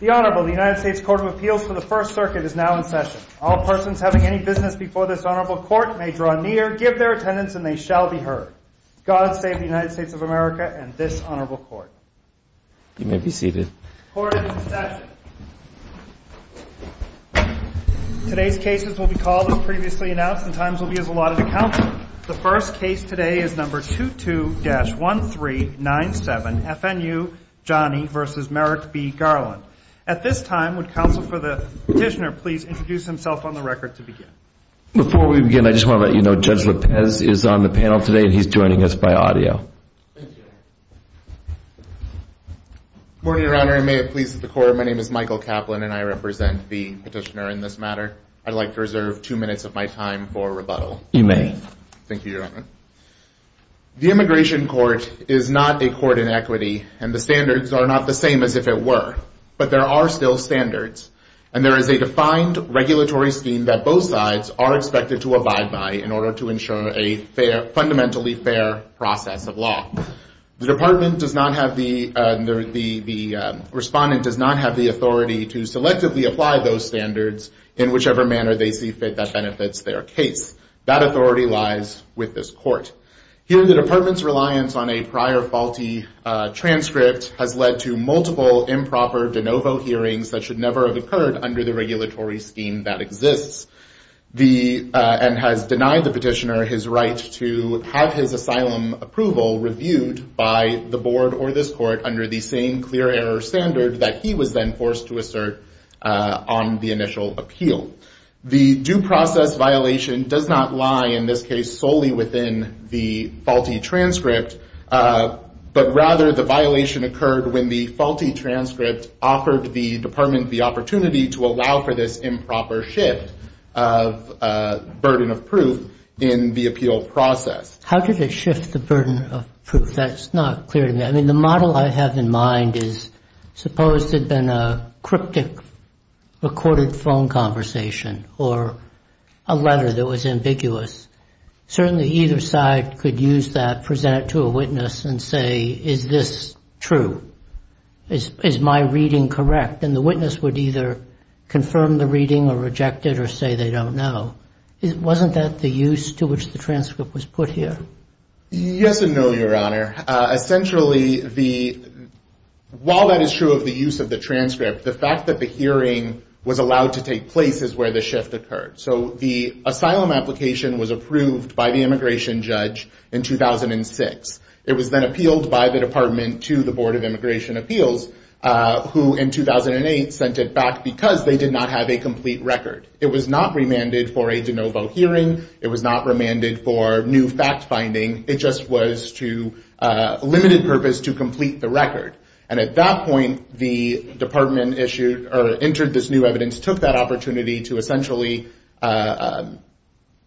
The Honorable, the United States Court of Appeals for the First Circuit is now in session. All persons having any business before this Honorable Court may draw near, give their attendance and they shall be heard. God save the United States of America and this Honorable Court. You may be seated. The Court is in session. Today's cases will be called as previously announced and times will be as allotted to counsel. The first case today is number 22-1397, FNU, Jani v. Merrick B. Garland. At this time, would counsel for the petitioner please introduce himself on the record to begin? Before we begin, I just want to let you know Judge Lopez is on the panel today and he's joining us by audio. Thank you. Good morning, Your Honor, and may it please the Court, my name is Michael Kaplan and I represent the petitioner in this matter. I'd like to reserve two minutes of my time for rebuttal. You may. Thank you, Your Honor. The Immigration Court is not a court in equity and the standards are not the same as if it were but there are still standards and there is a defined regulatory scheme that both sides are expected to abide by in order to ensure a fundamentally fair process of law. The department does not have the, the respondent does not have the authority to selectively apply those standards in whichever manner they see fit that benefits their case. That authority lies with this court. Here the department's reliance on a prior faulty transcript has led to multiple improper de novo hearings that should never have occurred under the regulatory scheme that exists. The, and has denied the petitioner his right to have his asylum approval reviewed by the on the initial appeal. The due process violation does not lie in this case solely within the faulty transcript but rather the violation occurred when the faulty transcript offered the department the opportunity to allow for this improper shift of burden of proof in the appeal process. How did it shift the burden of proof? That's not clear to me. I mean, the model I have in mind is suppose there'd been a cryptic recorded phone conversation or a letter that was ambiguous. Certainly either side could use that, present it to a witness and say, is this true? Is my reading correct? And the witness would either confirm the reading or reject it or say they don't know. Wasn't that the use to which the transcript was put here? Yes and no, your honor. Essentially the, while that is true of the use of the transcript, the fact that the hearing was allowed to take place is where the shift occurred. So the asylum application was approved by the immigration judge in 2006. It was then appealed by the department to the board of immigration appeals who in 2008 sent it back because they did not have a complete record. It was not remanded for a de novo hearing. It was not remanded for new fact finding. It just was to a limited purpose to complete the record. And at that point, the department issued or entered this new evidence, took that opportunity to essentially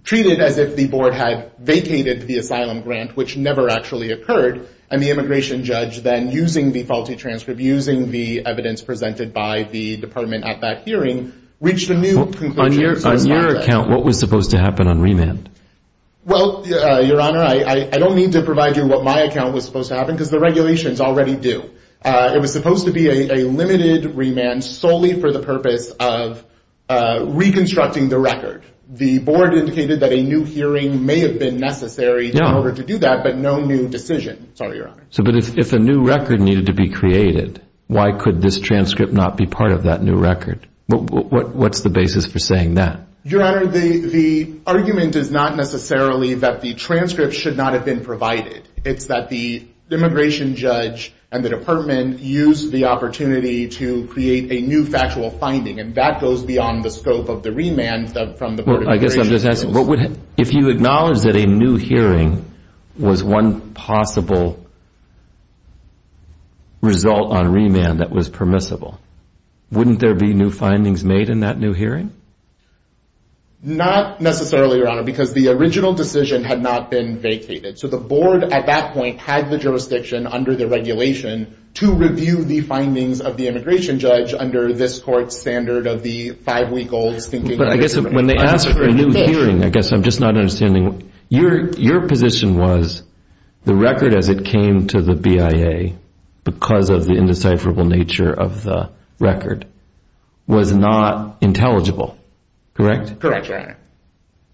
treat it as if the board had vacated the asylum grant, which never actually occurred. And the immigration judge then using the faulty transcript, using the evidence presented by the department at that hearing, reached a new conclusion. On your account, what was supposed to happen on remand? Well, your honor, I don't need to provide you what my account was supposed to happen because the regulations already do. It was supposed to be a limited remand solely for the purpose of reconstructing the record. The board indicated that a new hearing may have been necessary in order to do that, but no new decision. Sorry, your honor. So, but if a new record needed to be created, why could this transcript not be part of that new record? What's the basis for saying that? Your honor, the argument is not necessarily that the transcript should not have been provided. It's that the immigration judge and the department used the opportunity to create a new factual finding. And that goes beyond the scope of the remand that from the board of immigration. Well, I guess I'm just asking, if you acknowledge that a new hearing was one possible result on remand that was permissible, wouldn't there be new findings made in that new hearing? Not necessarily, your honor, because the original decision had not been vacated. So, the board at that point had the jurisdiction under the regulation to review the findings of the immigration judge under this court's standard of the five-week-old stinking- But I guess when they asked for a new hearing, I guess I'm just not understanding. Your position was the record as it came to the BIA because of the indecipherable nature of the record was not intelligible, correct? Correct, your honor.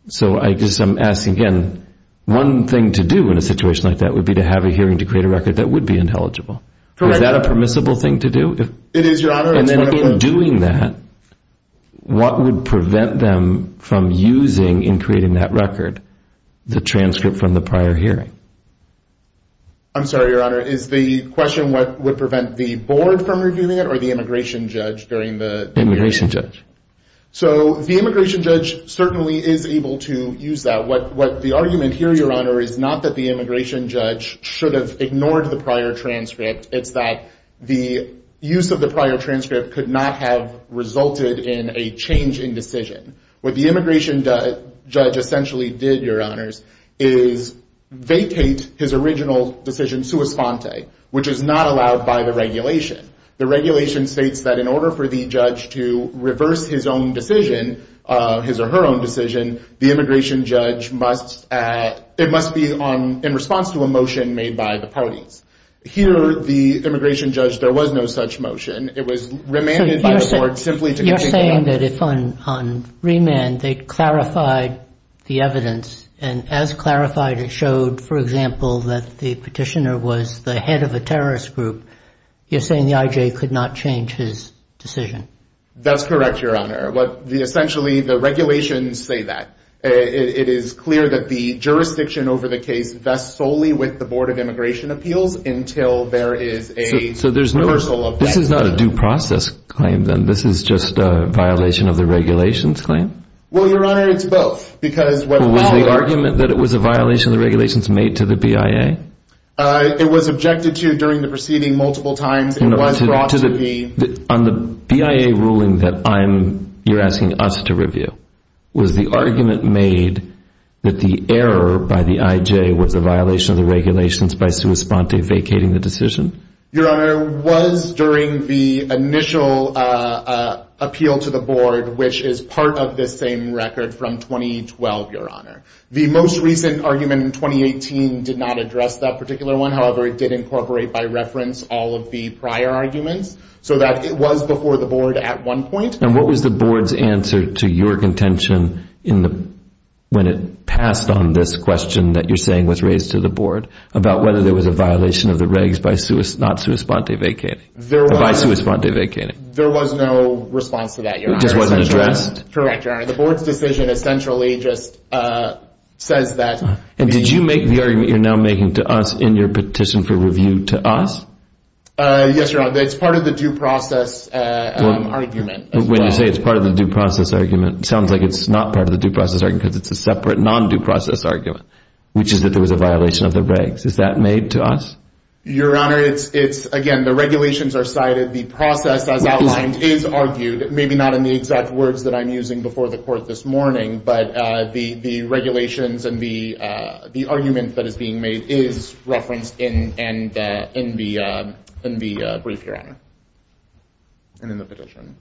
So, I guess I'm asking again, one thing to do in a situation like that would be to have a hearing to create a record that would be intelligible. Correct. Is that a permissible thing to do? It is, your honor. And then in doing that, what would prevent them from using and creating that record, the transcript from the prior hearing? I'm sorry, your honor. Is the question what would prevent the board from reviewing it or the immigration judge during the- Immigration judge. So, the immigration judge certainly is able to use that. What the argument here, your honor, is not that the immigration judge should have ignored the prior transcript. It's that the use of the prior transcript could not have resulted in a change in decision. What the immigration judge essentially did, your honors, is vacate his original decision sua sponte, which is not allowed by the regulation. The regulation states that in order for the judge to reverse his own decision, his or her own decision, the immigration judge must, it must be in response to a motion made by the parties. Here, the immigration judge, there was no such motion. It was remanded by the board simply to- You're saying that if on remand, they clarified the evidence, and as clarified, it showed, for example, that the petitioner was the head of a terrorist group, you're saying the I.J. could not change his decision. That's correct, your honor. But, essentially, the regulations say that. It is clear that the jurisdiction over the case vests solely with the Board of Immigration Appeals until there is a reversal of- This is not a due process claim, then. This is just a violation of the regulations claim? Well, your honor, it's both, because- Was the argument that it was a violation of the regulations made to the BIA? It was objected to during the proceeding multiple times. It was brought to the- On the BIA ruling that I'm, you're asking us to review, was the argument made that the error by the I.J. was a violation of the regulations by sua sponte vacating the decision? Your honor, it was during the initial appeal to the board, which is part of this same record from 2012, your honor. The most recent argument in 2018 did not address that particular one, however, it did incorporate by reference all of the prior arguments, so that it was before the board at one point. And what was the board's answer to your contention when it passed on this question that you're was raised to the board about whether there was a violation of the regs by not sua sponte vacating? There was- By sua sponte vacating? There was no response to that, your honor. It just wasn't addressed? Correct, your honor. The board's decision essentially just says that- And did you make the argument you're now making to us in your petition for review to us? Yes, your honor, it's part of the due process argument as well. When you say it's part of the due process argument, it sounds like it's not part of the due process argument because it's a separate non-due process argument, which is that there was a violation of the regs. Is that made to us? Your honor, it's, again, the regulations are cited, the process as outlined is argued, maybe not in the exact words that I'm using before the court this morning, but the regulations and the argument that is being made is referenced in the brief, your honor, and in the petition.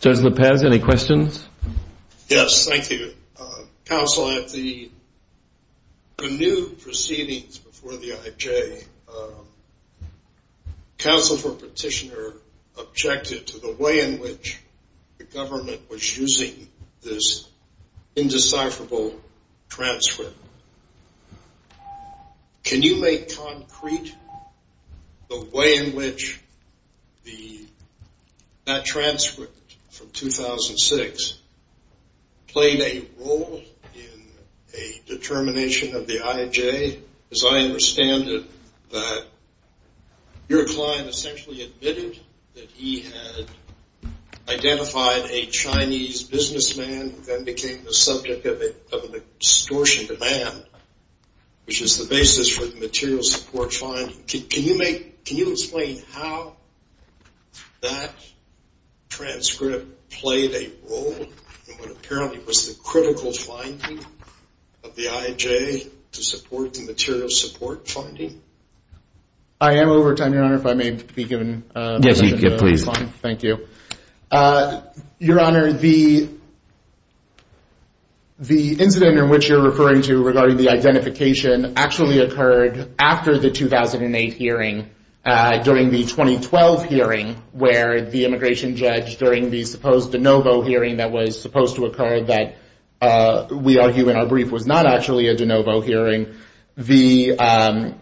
Judge Lopez, any questions? Yes, thank you. Counsel, at the renewed proceedings before the IJ, counsel for petitioner objected to the way in which the government was using this indecipherable transfer. Can you make concrete the way in which that transcript from 2006 played a role in a determination of the IJ? Because I understand that your client essentially admitted that he had identified a Chinese businessman who then became the subject of an extortion demand, which is the basis for the material support finding. Can you explain how that transcript played a role in what apparently was the critical finding of the IJ to support the material support finding? I am over time, your honor, if I may be given the next slide. Yes, you can, please. Thank you. Your honor, the incident in which you're referring to regarding the identification actually occurred after the 2008 hearing, during the 2012 hearing, where the immigration judge during the supposed de novo hearing that was supposed to occur that we argue in our brief was not actually a de novo hearing, the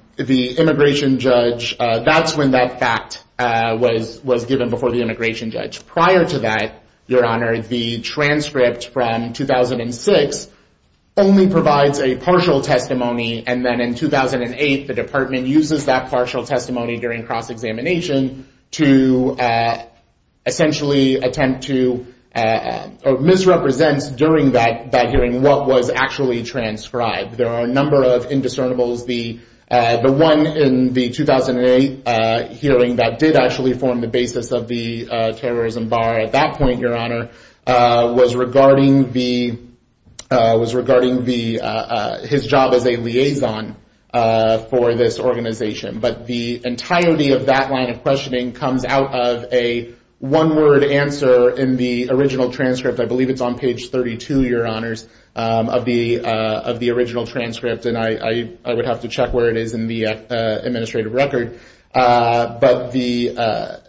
immigration judge, that's when that fact was given before the immigration judge. Prior to that, your honor, the transcript from 2006 only provides a partial testimony, and then in 2008, the department uses that partial testimony during cross-examination to essentially attempt to misrepresent during that hearing what was actually transcribed. There are a number of indiscernibles. The one in the 2008 hearing that did actually form the basis of the terrorism bar at that point, your honor, was regarding his job as a liaison for this organization, but the entirety of that line of questioning comes out of a one-word answer in the original transcript. I believe it's on page 32, your honors, of the original transcript, and I would have to check where it is in the administrative record, but the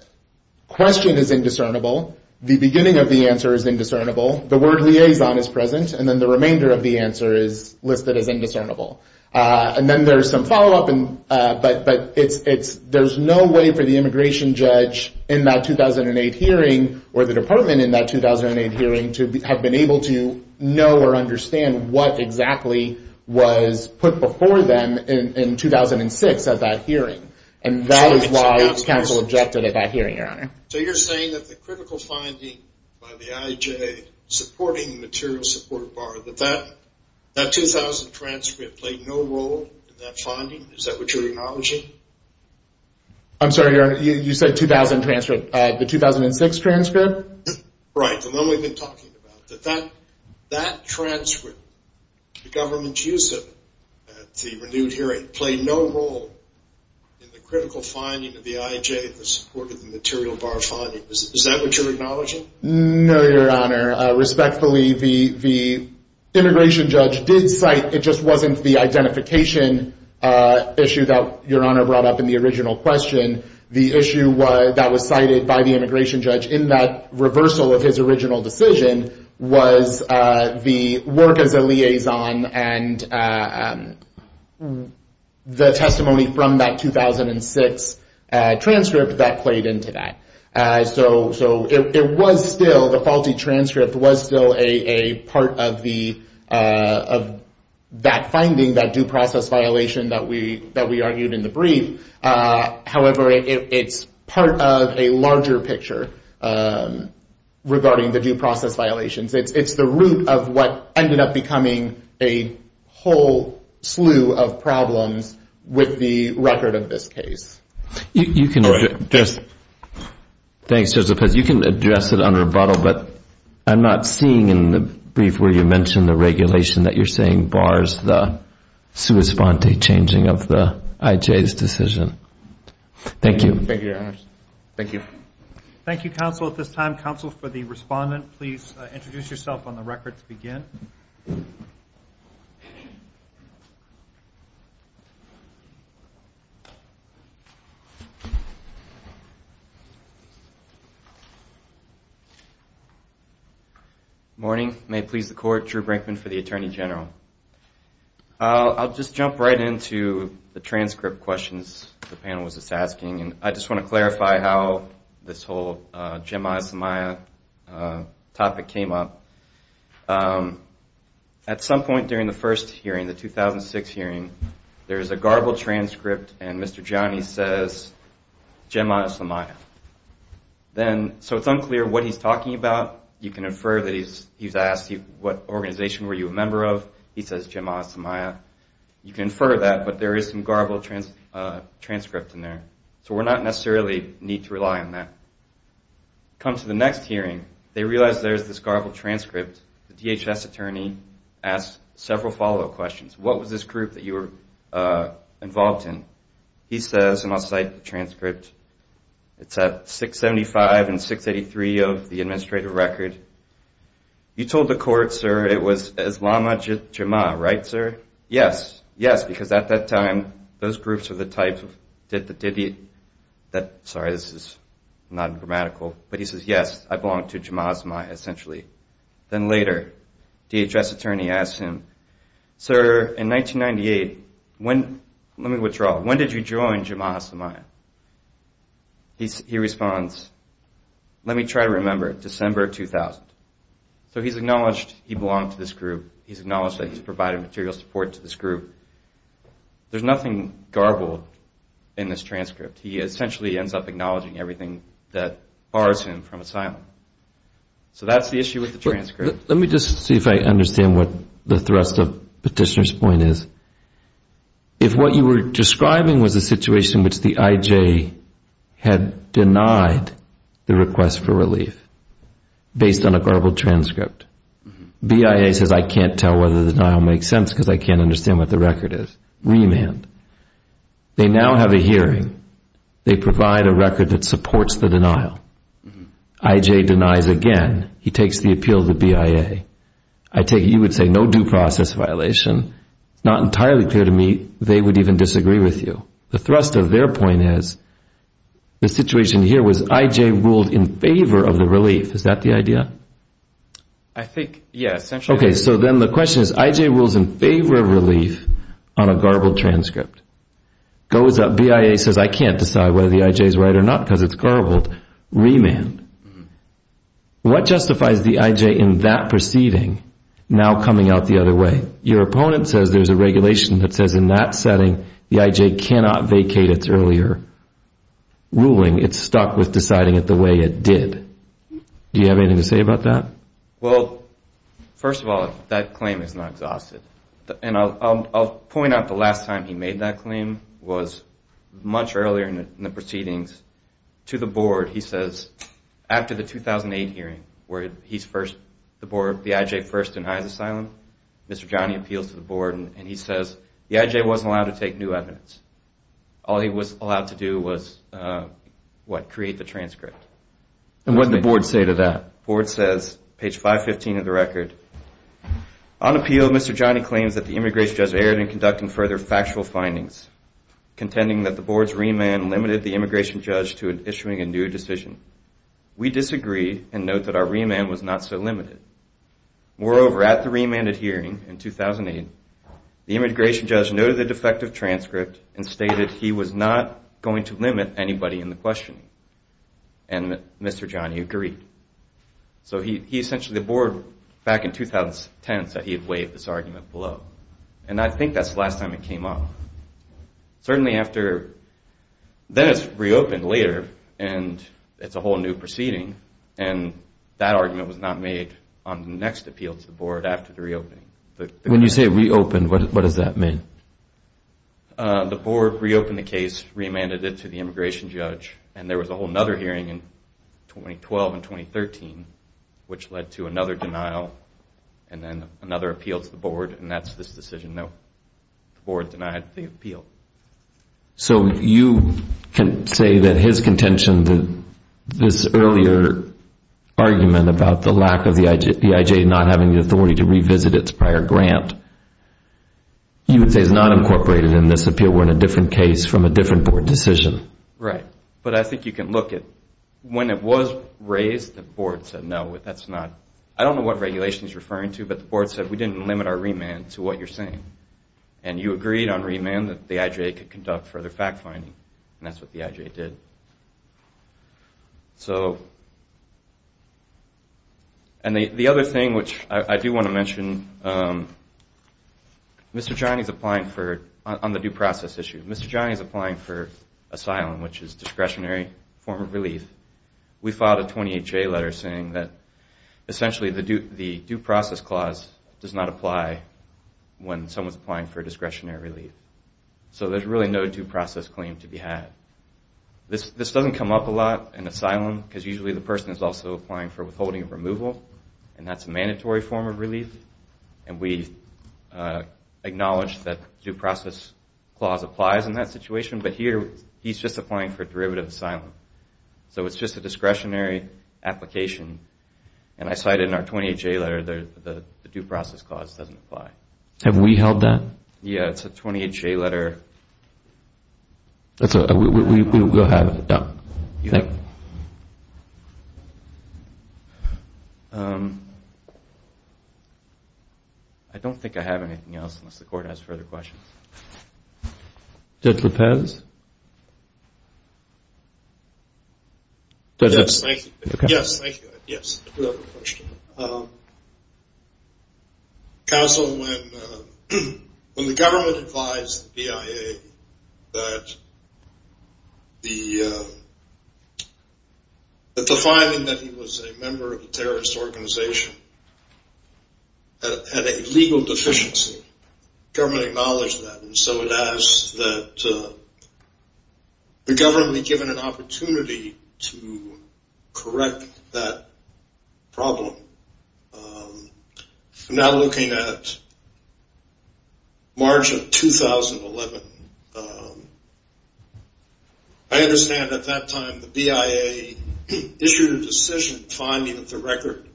question is indiscernible. The beginning of the answer is indiscernible. The word liaison is present, and then the remainder of the answer is listed as indiscernible. And then there's some follow-up, but there's no way for the immigration judge in that 2008 hearing or the department in that 2008 hearing to have been able to know or understand what exactly was put before them in 2006 at that hearing, and that is why counsel objected at that hearing, your honor. So you're saying that the critical finding by the IJ supporting the material support bar, that that 2000 transcript played no role in that finding? Is that what you're acknowledging? I'm sorry, your honor. You said 2000 transcript. The 2006 transcript? Right. And then we've been talking about that. That transcript, the government's use of it at the renewed hearing, played no role in the critical finding of the IJ in the support of the material bar finding. Is that what you're acknowledging? No, your honor. Respectfully, the immigration judge did cite, it just wasn't the identification issue that your honor brought up in the original question. The issue that was cited by the immigration judge in that reversal of his original decision was the work as a liaison and the testimony from that 2006 transcript that played into that. So it was still, the faulty transcript was still a part of that finding, that due process violation that we argued in the brief. However, it's part of a larger picture regarding the due process violations. It's the root of what ended up becoming a whole slew of problems with the record of this case. You can address it under rebuttal, but I'm not seeing in the brief where you mentioned the regulation that you're saying bars the sua sponte changing of the IJ's decision. Thank you. Thank you, your honor. Thank you. Thank you, counsel, at this time. Counsel, for the respondent, please introduce yourself on the record to begin. Good morning, may it please the court, Drew Brinkman for the Attorney General. I'll just jump right into the transcript questions the panel was just asking, and I just want to clarify how this whole Jemaya-Semaya topic came up. At some point during the first hearing, the 2006 hearing, there is a garbled transcript and Mr. Gianni says Jemaya-Semaya. So it's unclear what he's talking about. You can infer that he's asked what organization were you a member of. He says Jemaya-Semaya. You can infer that, but there is some garbled transcript in there. So we're not necessarily need to rely on that. Come to the next hearing, they realize there's this garbled transcript. The DHS attorney asks several follow-up questions. What was this group that you were involved in? He says, and I'll cite the transcript, it's at 675 and 683 of the administrative record. You told the court, sir, it was Islam Jemaya, right, sir? Yes. Yes, because at that time, those groups were the type of, sorry, this is not grammatical, but he says, yes, I belong to Jemaya-Semaya, essentially. Then later, DHS attorney asks him, sir, in 1998, when, let me withdraw, when did you join Jemaya-Semaya? He responds, let me try to remember, December 2000. So he's acknowledged he belonged to this group. He's acknowledged that he's provided material support to this group. There's nothing garbled in this transcript. He essentially ends up acknowledging everything that bars him from asylum. So that's the issue with the transcript. Let me just see if I understand what the thrust of Petitioner's point is. If what you were describing was a situation in which the IJ had denied the request for the denial. I can't tell whether the denial makes sense because I can't understand what the record is. Remand. They now have a hearing. They provide a record that supports the denial. IJ denies again. He takes the appeal to BIA. You would say no due process violation. Not entirely clear to me they would even disagree with you. The thrust of their point is the situation here was IJ ruled in favor of the relief. Is that the idea? I think, yes. So then the question is IJ rules in favor of relief on a garbled transcript. BIA says I can't decide whether the IJ is right or not because it's garbled. Remand. What justifies the IJ in that proceeding now coming out the other way? Your opponent says there's a regulation that says in that setting the IJ cannot vacate its earlier ruling. It's stuck with deciding it the way it did. Do you have anything to say about that? Well, first of all, that claim is not exhausted. And I'll point out the last time he made that claim was much earlier in the proceedings. To the board, he says after the 2008 hearing where he's first, the board, the IJ first denies asylum, Mr. Johnny appeals to the board and he says the IJ wasn't allowed to take new evidence. All he was allowed to do was, what, create the transcript. And what did the board say to that? The board says, page 515 of the record, on appeal, Mr. Johnny claims that the immigration judge erred in conducting further factual findings, contending that the board's remand limited the immigration judge to issuing a new decision. We disagree and note that our remand was not so limited. Moreover, at the remanded hearing in 2008, the immigration judge noted the defective transcript and stated he was not going to limit anybody in the questioning. And Mr. Johnny agreed. So he essentially, the board, back in 2010 said he had waived this argument below. And I think that's the last time it came up. Certainly after, then it's reopened later, and it's a whole new proceeding, and that argument was not made on the next appeal to the board after the reopening. When you say reopened, what does that mean? The board reopened the case, remanded it to the immigration judge, and there was a whole other hearing in 2012 and 2013, which led to another denial and then another appeal to the board. And that's this decision. The board denied the appeal. So you can say that his contention, this earlier argument about the lack of the IJ not having the authority to revisit its prior grant, you would say is not incorporated in this appeal. We're in a different case from a different board decision. Right. But I think you can look at, when it was raised, the board said no, that's not. I don't know what regulation he's referring to, but the board said we didn't limit our remand to what you're saying. And you agreed on remand that the IJ could conduct further fact-finding, and that's what the IJ did. So, and the other thing which I do want to mention, Mr. Johnny's applying for, on the due process issue, Mr. Johnny's applying for asylum, which is discretionary form of relief. We filed a 28-J letter saying that essentially the due process clause does not apply when someone's applying for discretionary relief. So there's really no due process claim to be had. This doesn't come up a lot in asylum, because usually the person is also applying for withholding of removal, and that's a mandatory form of relief. And we acknowledge that due process clause applies in that situation, but here he's just applying for derivative asylum. So it's just a discretionary application. And I cited in our 28-J letter the due process clause doesn't apply. Have we held that? Yeah. It's a 28-J letter. That's all right. We'll have it done. You think? I don't think I have anything else, unless the court has further questions. Judge Lopez? Yes. Thank you. Yes. Thank you. Yes. I do have a question. Counsel, when the government advised the BIA that the finding that he was a member of a terrorist organization had a legal deficiency, the government acknowledged that. And so it asks that the government be given an opportunity to correct that problem. I'm now looking at March of 2011. I understand at that time the BIA issued a decision finding that the record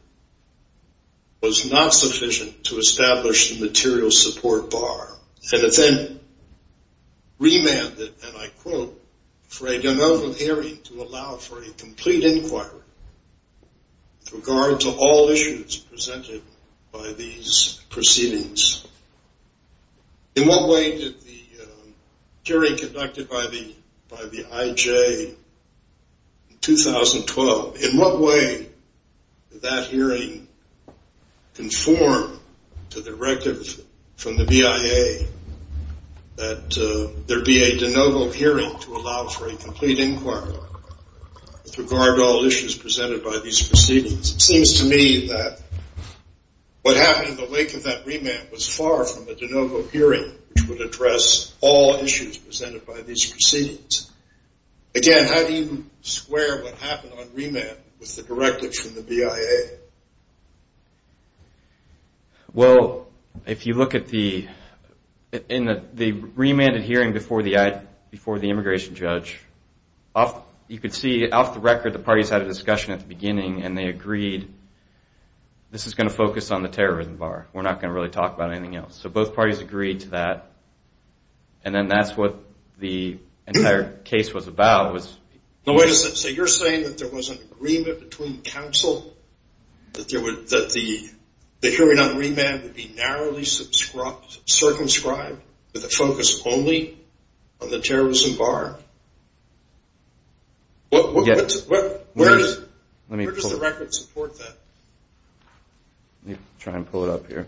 was not sufficient to establish the material support bar. And it then remanded, and I quote, for a general hearing to allow for a complete inquiry with regard to all issues presented by these proceedings. In what way did the hearing conducted by the IJ in 2012, in what way did that hearing conform to the directive from the BIA that there be a de novo hearing to allow for a complete inquiry with regard to all issues presented by these proceedings? It seems to me that what happened in the wake of that remand was far from a de novo hearing which would address all issues presented by these proceedings. Again, how do you square what happened on remand with the directives from the BIA? Well, if you look at the remanded hearing before the immigration judge, you could see off the record the parties had a discussion at the beginning and they agreed, this is going to focus on the terrorism bar. We're not going to really talk about anything else. So both parties agreed to that. And then that's what the entire case was about. So you're saying that there was an agreement between counsel that the hearing on remand would be narrowly circumscribed with a focus only on the terrorism bar? Where does the record support that? Let me try and pull it up here.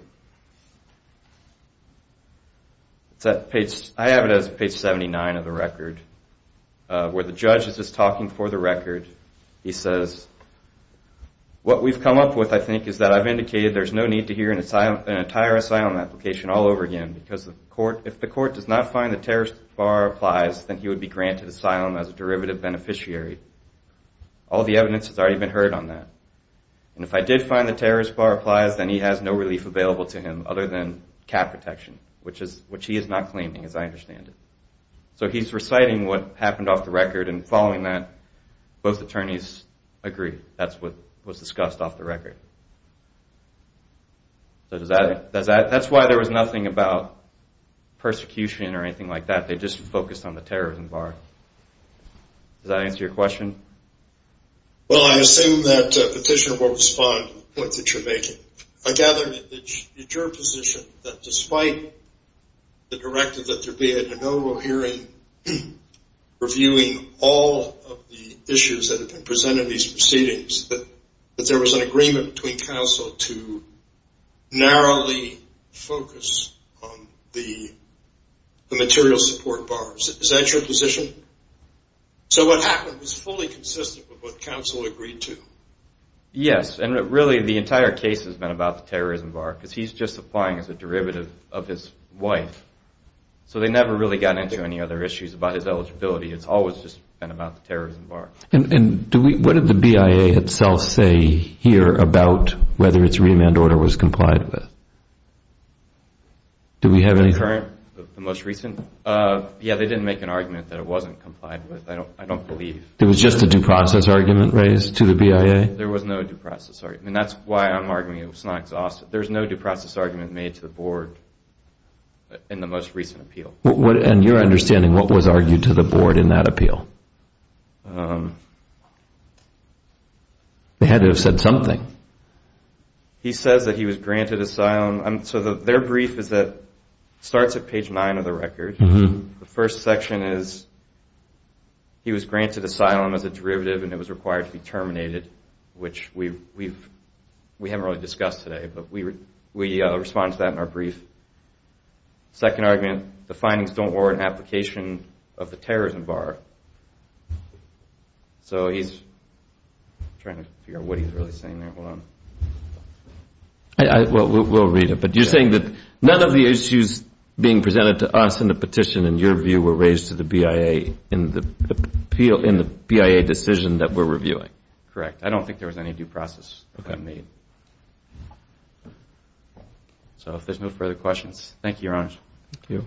I have it as page 79 of the record where the judge is just talking for the record. He says, what we've come up with, I think, is that I've indicated there's no need to hear an entire asylum application all over again because if the court does not find the terrorist bar applies, then he would be granted asylum as a derivative beneficiary. All the evidence has already been heard on that. And if I did find the terrorist bar applies, then he has no relief available to him other than cap protection, which he is not claiming as I understand it. So he's reciting what happened off the record and following that, both attorneys agree that's what was discussed off the record. That's why there was nothing about persecution or anything like that. They just focused on the terrorism bar. Does that answer your question? Well, I assume that Petitioner will respond to the point that you're making. I gather that it's your position that despite the directive that there be a de novo hearing reviewing all of the issues that have been presented in these proceedings, that there was an agreement between counsel to narrowly focus on the material support bars. Is that your position? So what happened is fully consistent with what counsel agreed to. Yes, and really the entire case has been about the terrorism bar because he's just applying as a derivative of his wife. So they never really got into any other issues about his eligibility. It's always just been about the terrorism bar. And what did the BIA itself say here about whether its remand order was complied with? Do we have any current, the most recent? Yeah, they didn't make an argument that it wasn't complied with. I don't believe. It was just a due process argument raised to the BIA? There was no due process argument. That's why I'm arguing it was not exhausted. There's no due process argument made to the Board in the most recent appeal. And your understanding, what was argued to the Board in that appeal? They had to have said something. He says that he was granted asylum. So their brief starts at page 9 of the record. The first section is he was granted asylum as a derivative and it was required to be terminated, which we haven't really discussed today, but we respond to that in our brief. Second argument, the findings don't warrant application of the terrorism bar. So he's trying to figure out what he's really saying there. We'll read it. But you're saying that none of the issues being presented to us in the petition, in your view, were raised to the BIA in the BIA decision that we're reviewing? Correct. I don't think there was any due process made. So if there's no further questions, thank you, Your Honor. Thank you.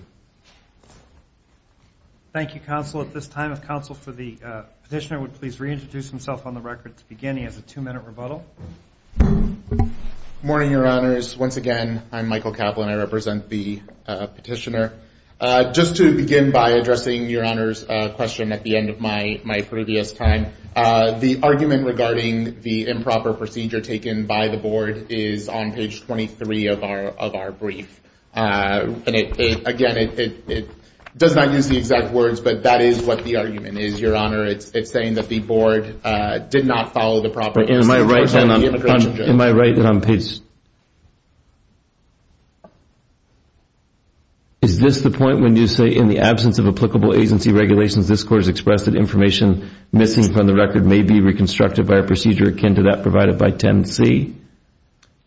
Thank you, counsel. At this time, if counsel for the petitioner would please reintroduce himself on the record to begin, as a two-minute rebuttal. Good morning, Your Honors. Once again, I'm Michael Kaplan. I represent the petitioner. Just to begin by addressing Your Honor's question at the end of my previous time, the argument regarding the improper procedure taken by the board is on page 23 of our brief. Again, it does not use the exact words, but that is what the argument is, Your Honor. It's saying that the board did not follow the proper instructions of the immigration judge. Am I right that on page 23, is this the point when you say in the absence of applicable agency regulations, this court has expressed that information missing from the record may be reconstructed by a procedure akin to that provided by 10C?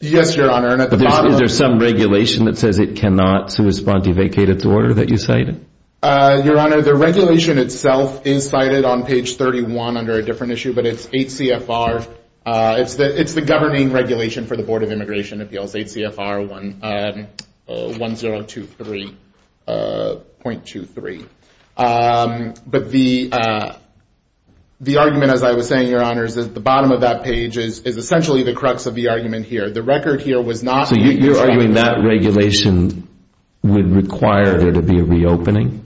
Yes, Your Honor. Is there some regulation that says it cannot correspond to vacate its order that you cited? Your Honor, the regulation itself is cited on page 31 under a different issue, but it's 8 CFR. It's the governing regulation for the Board of Immigration Appeals, 8 CFR 1023.23. But the argument, as I was saying, Your Honors, is at the bottom of that page is essentially the crux of the argument here. So you're arguing that regulation would require there to be a reopening?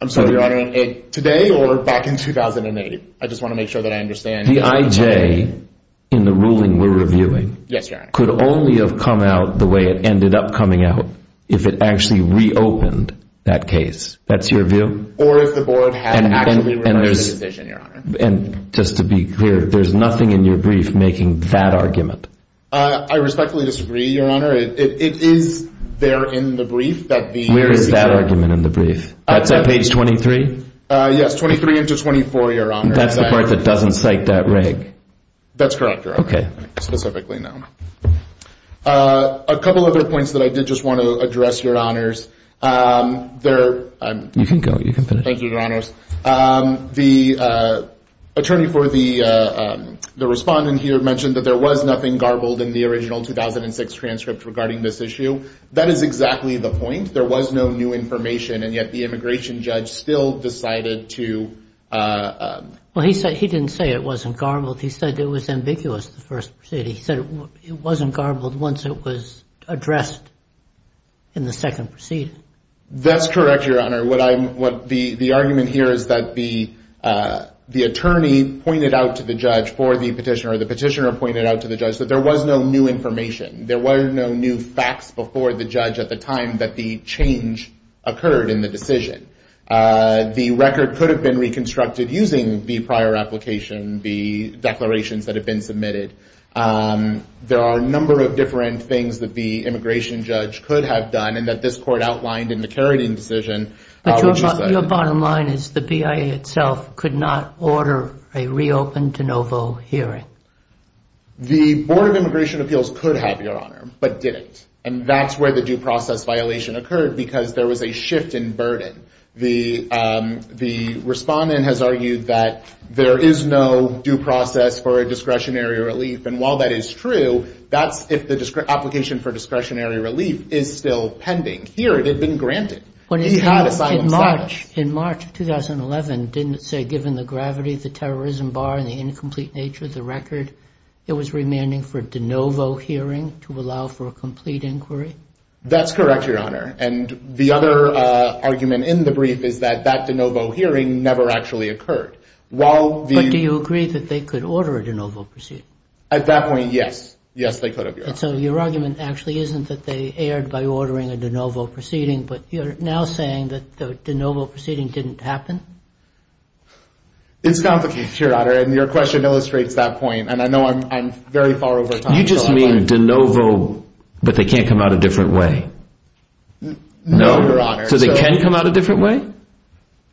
I'm sorry, Your Honor, today or back in 2008? I just want to make sure that I understand. The IJ in the ruling we're reviewing could only have come out the way it ended up coming out if it actually reopened that case. That's your view? Or if the board had actually reviewed the decision, Your Honor. And just to be clear, there's nothing in your brief making that argument? I respectfully disagree, Your Honor. It is there in the brief. Where is that argument in the brief? That's on page 23? Yes, 23 into 24, Your Honor. That's the part that doesn't cite that reg? That's correct, Your Honor. Okay. Specifically, no. A couple other points that I did just want to address, Your Honors. You can go. You can finish. Thank you, Your Honors. The attorney for the respondent here mentioned that there was nothing garbled in the original 2006 transcript regarding this issue. That is exactly the point. There was no new information, and yet the immigration judge still decided to. Well, he didn't say it wasn't garbled. He said it was ambiguous, the first proceeding. He said it wasn't garbled once it was addressed in the second proceeding. That's correct, Your Honor. The argument here is that the attorney pointed out to the judge for the petitioner, or the petitioner pointed out to the judge, that there was no new information. There were no new facts before the judge at the time that the change occurred in the decision. The record could have been reconstructed using the prior application, the declarations that had been submitted. There are a number of different things that the immigration judge could have done and that this court outlined in the Carradine decision. But your bottom line is the BIA itself could not order a reopen De Novo hearing. The Board of Immigration Appeals could have, Your Honor, but didn't. And that's where the due process violation occurred because there was a shift in burden. The respondent has argued that there is no due process for a discretionary relief. And while that is true, that's if the application for discretionary relief is still pending. Here, it had been granted. He had a silent status. In March of 2011, didn't it say, given the gravity of the terrorism bar and the incomplete nature of the record, it was remanding for a De Novo hearing to allow for a complete inquiry? That's correct, Your Honor. And the other argument in the brief is that that De Novo hearing never actually occurred. But do you agree that they could order a De Novo proceeding? At that point, yes. Yes, they could, Your Honor. And so your argument actually isn't that they erred by ordering a De Novo proceeding, but you're now saying that the De Novo proceeding didn't happen? It's complicated, Your Honor, and your question illustrates that point. And I know I'm very far over time. You just mean De Novo, but they can't come out a different way? No, Your Honor. So they can come out a different way?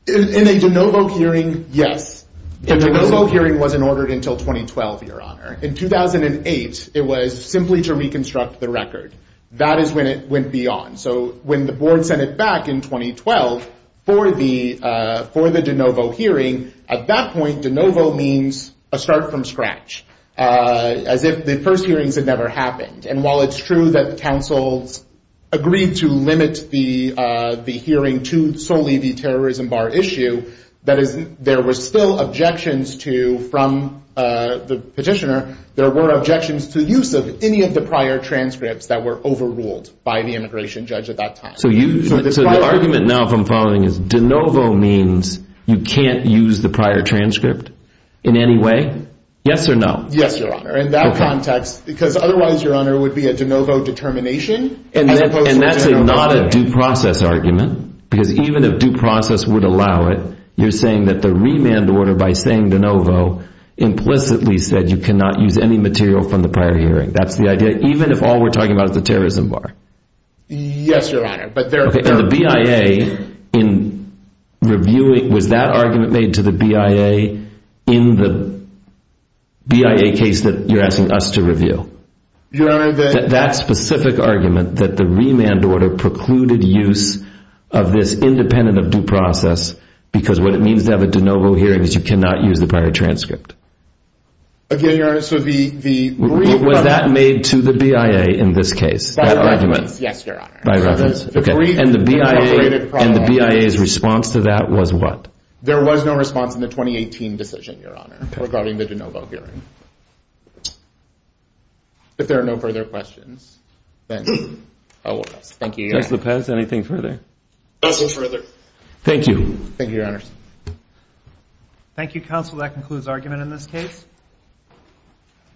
In a De Novo hearing, yes. A De Novo hearing wasn't ordered until 2012, Your Honor. In 2008, it was simply to reconstruct the record. That is when it went beyond. So when the board sent it back in 2012 for the De Novo hearing, at that point, De Novo means a start from scratch, as if the first hearings had never happened. And while it's true that the counsels agreed to limit the hearing to solely the terrorism bar issue, there were still objections to, from the petitioner, there were objections to use of any of the prior transcripts that were overruled by the immigration judge at that time. So the argument now, if I'm following, is De Novo means you can't use the prior transcript in any way? Yes or no? Yes, Your Honor. In that context, because otherwise, Your Honor, it would be a De Novo determination as opposed to a De Novo hearing. And that's not a due process argument, because even if due process would allow it, you're saying that the remand order, by saying De Novo, implicitly said you cannot use any material from the prior hearing. That's the idea, even if all we're talking about is the terrorism bar? Yes, Your Honor. Okay. And the BIA, in reviewing, was that argument made to the BIA in the BIA case that you're asking us to review? Your Honor, that— That specific argument, that the remand order precluded use of this independent of due process, because what it means to have a De Novo hearing is you cannot use the prior transcript. Again, Your Honor, so the— Was that made to the BIA in this case, that argument? By reference, yes, Your Honor. By reference. Okay. And the BIA's response to that was what? There was no response in the 2018 decision, Your Honor, regarding the De Novo hearing. If there are no further questions, then I'll close. Thank you, Your Honor. Judge Lopez, anything further? No further. Thank you. Thank you, Your Honor. Thank you, counsel. That concludes argument in this case.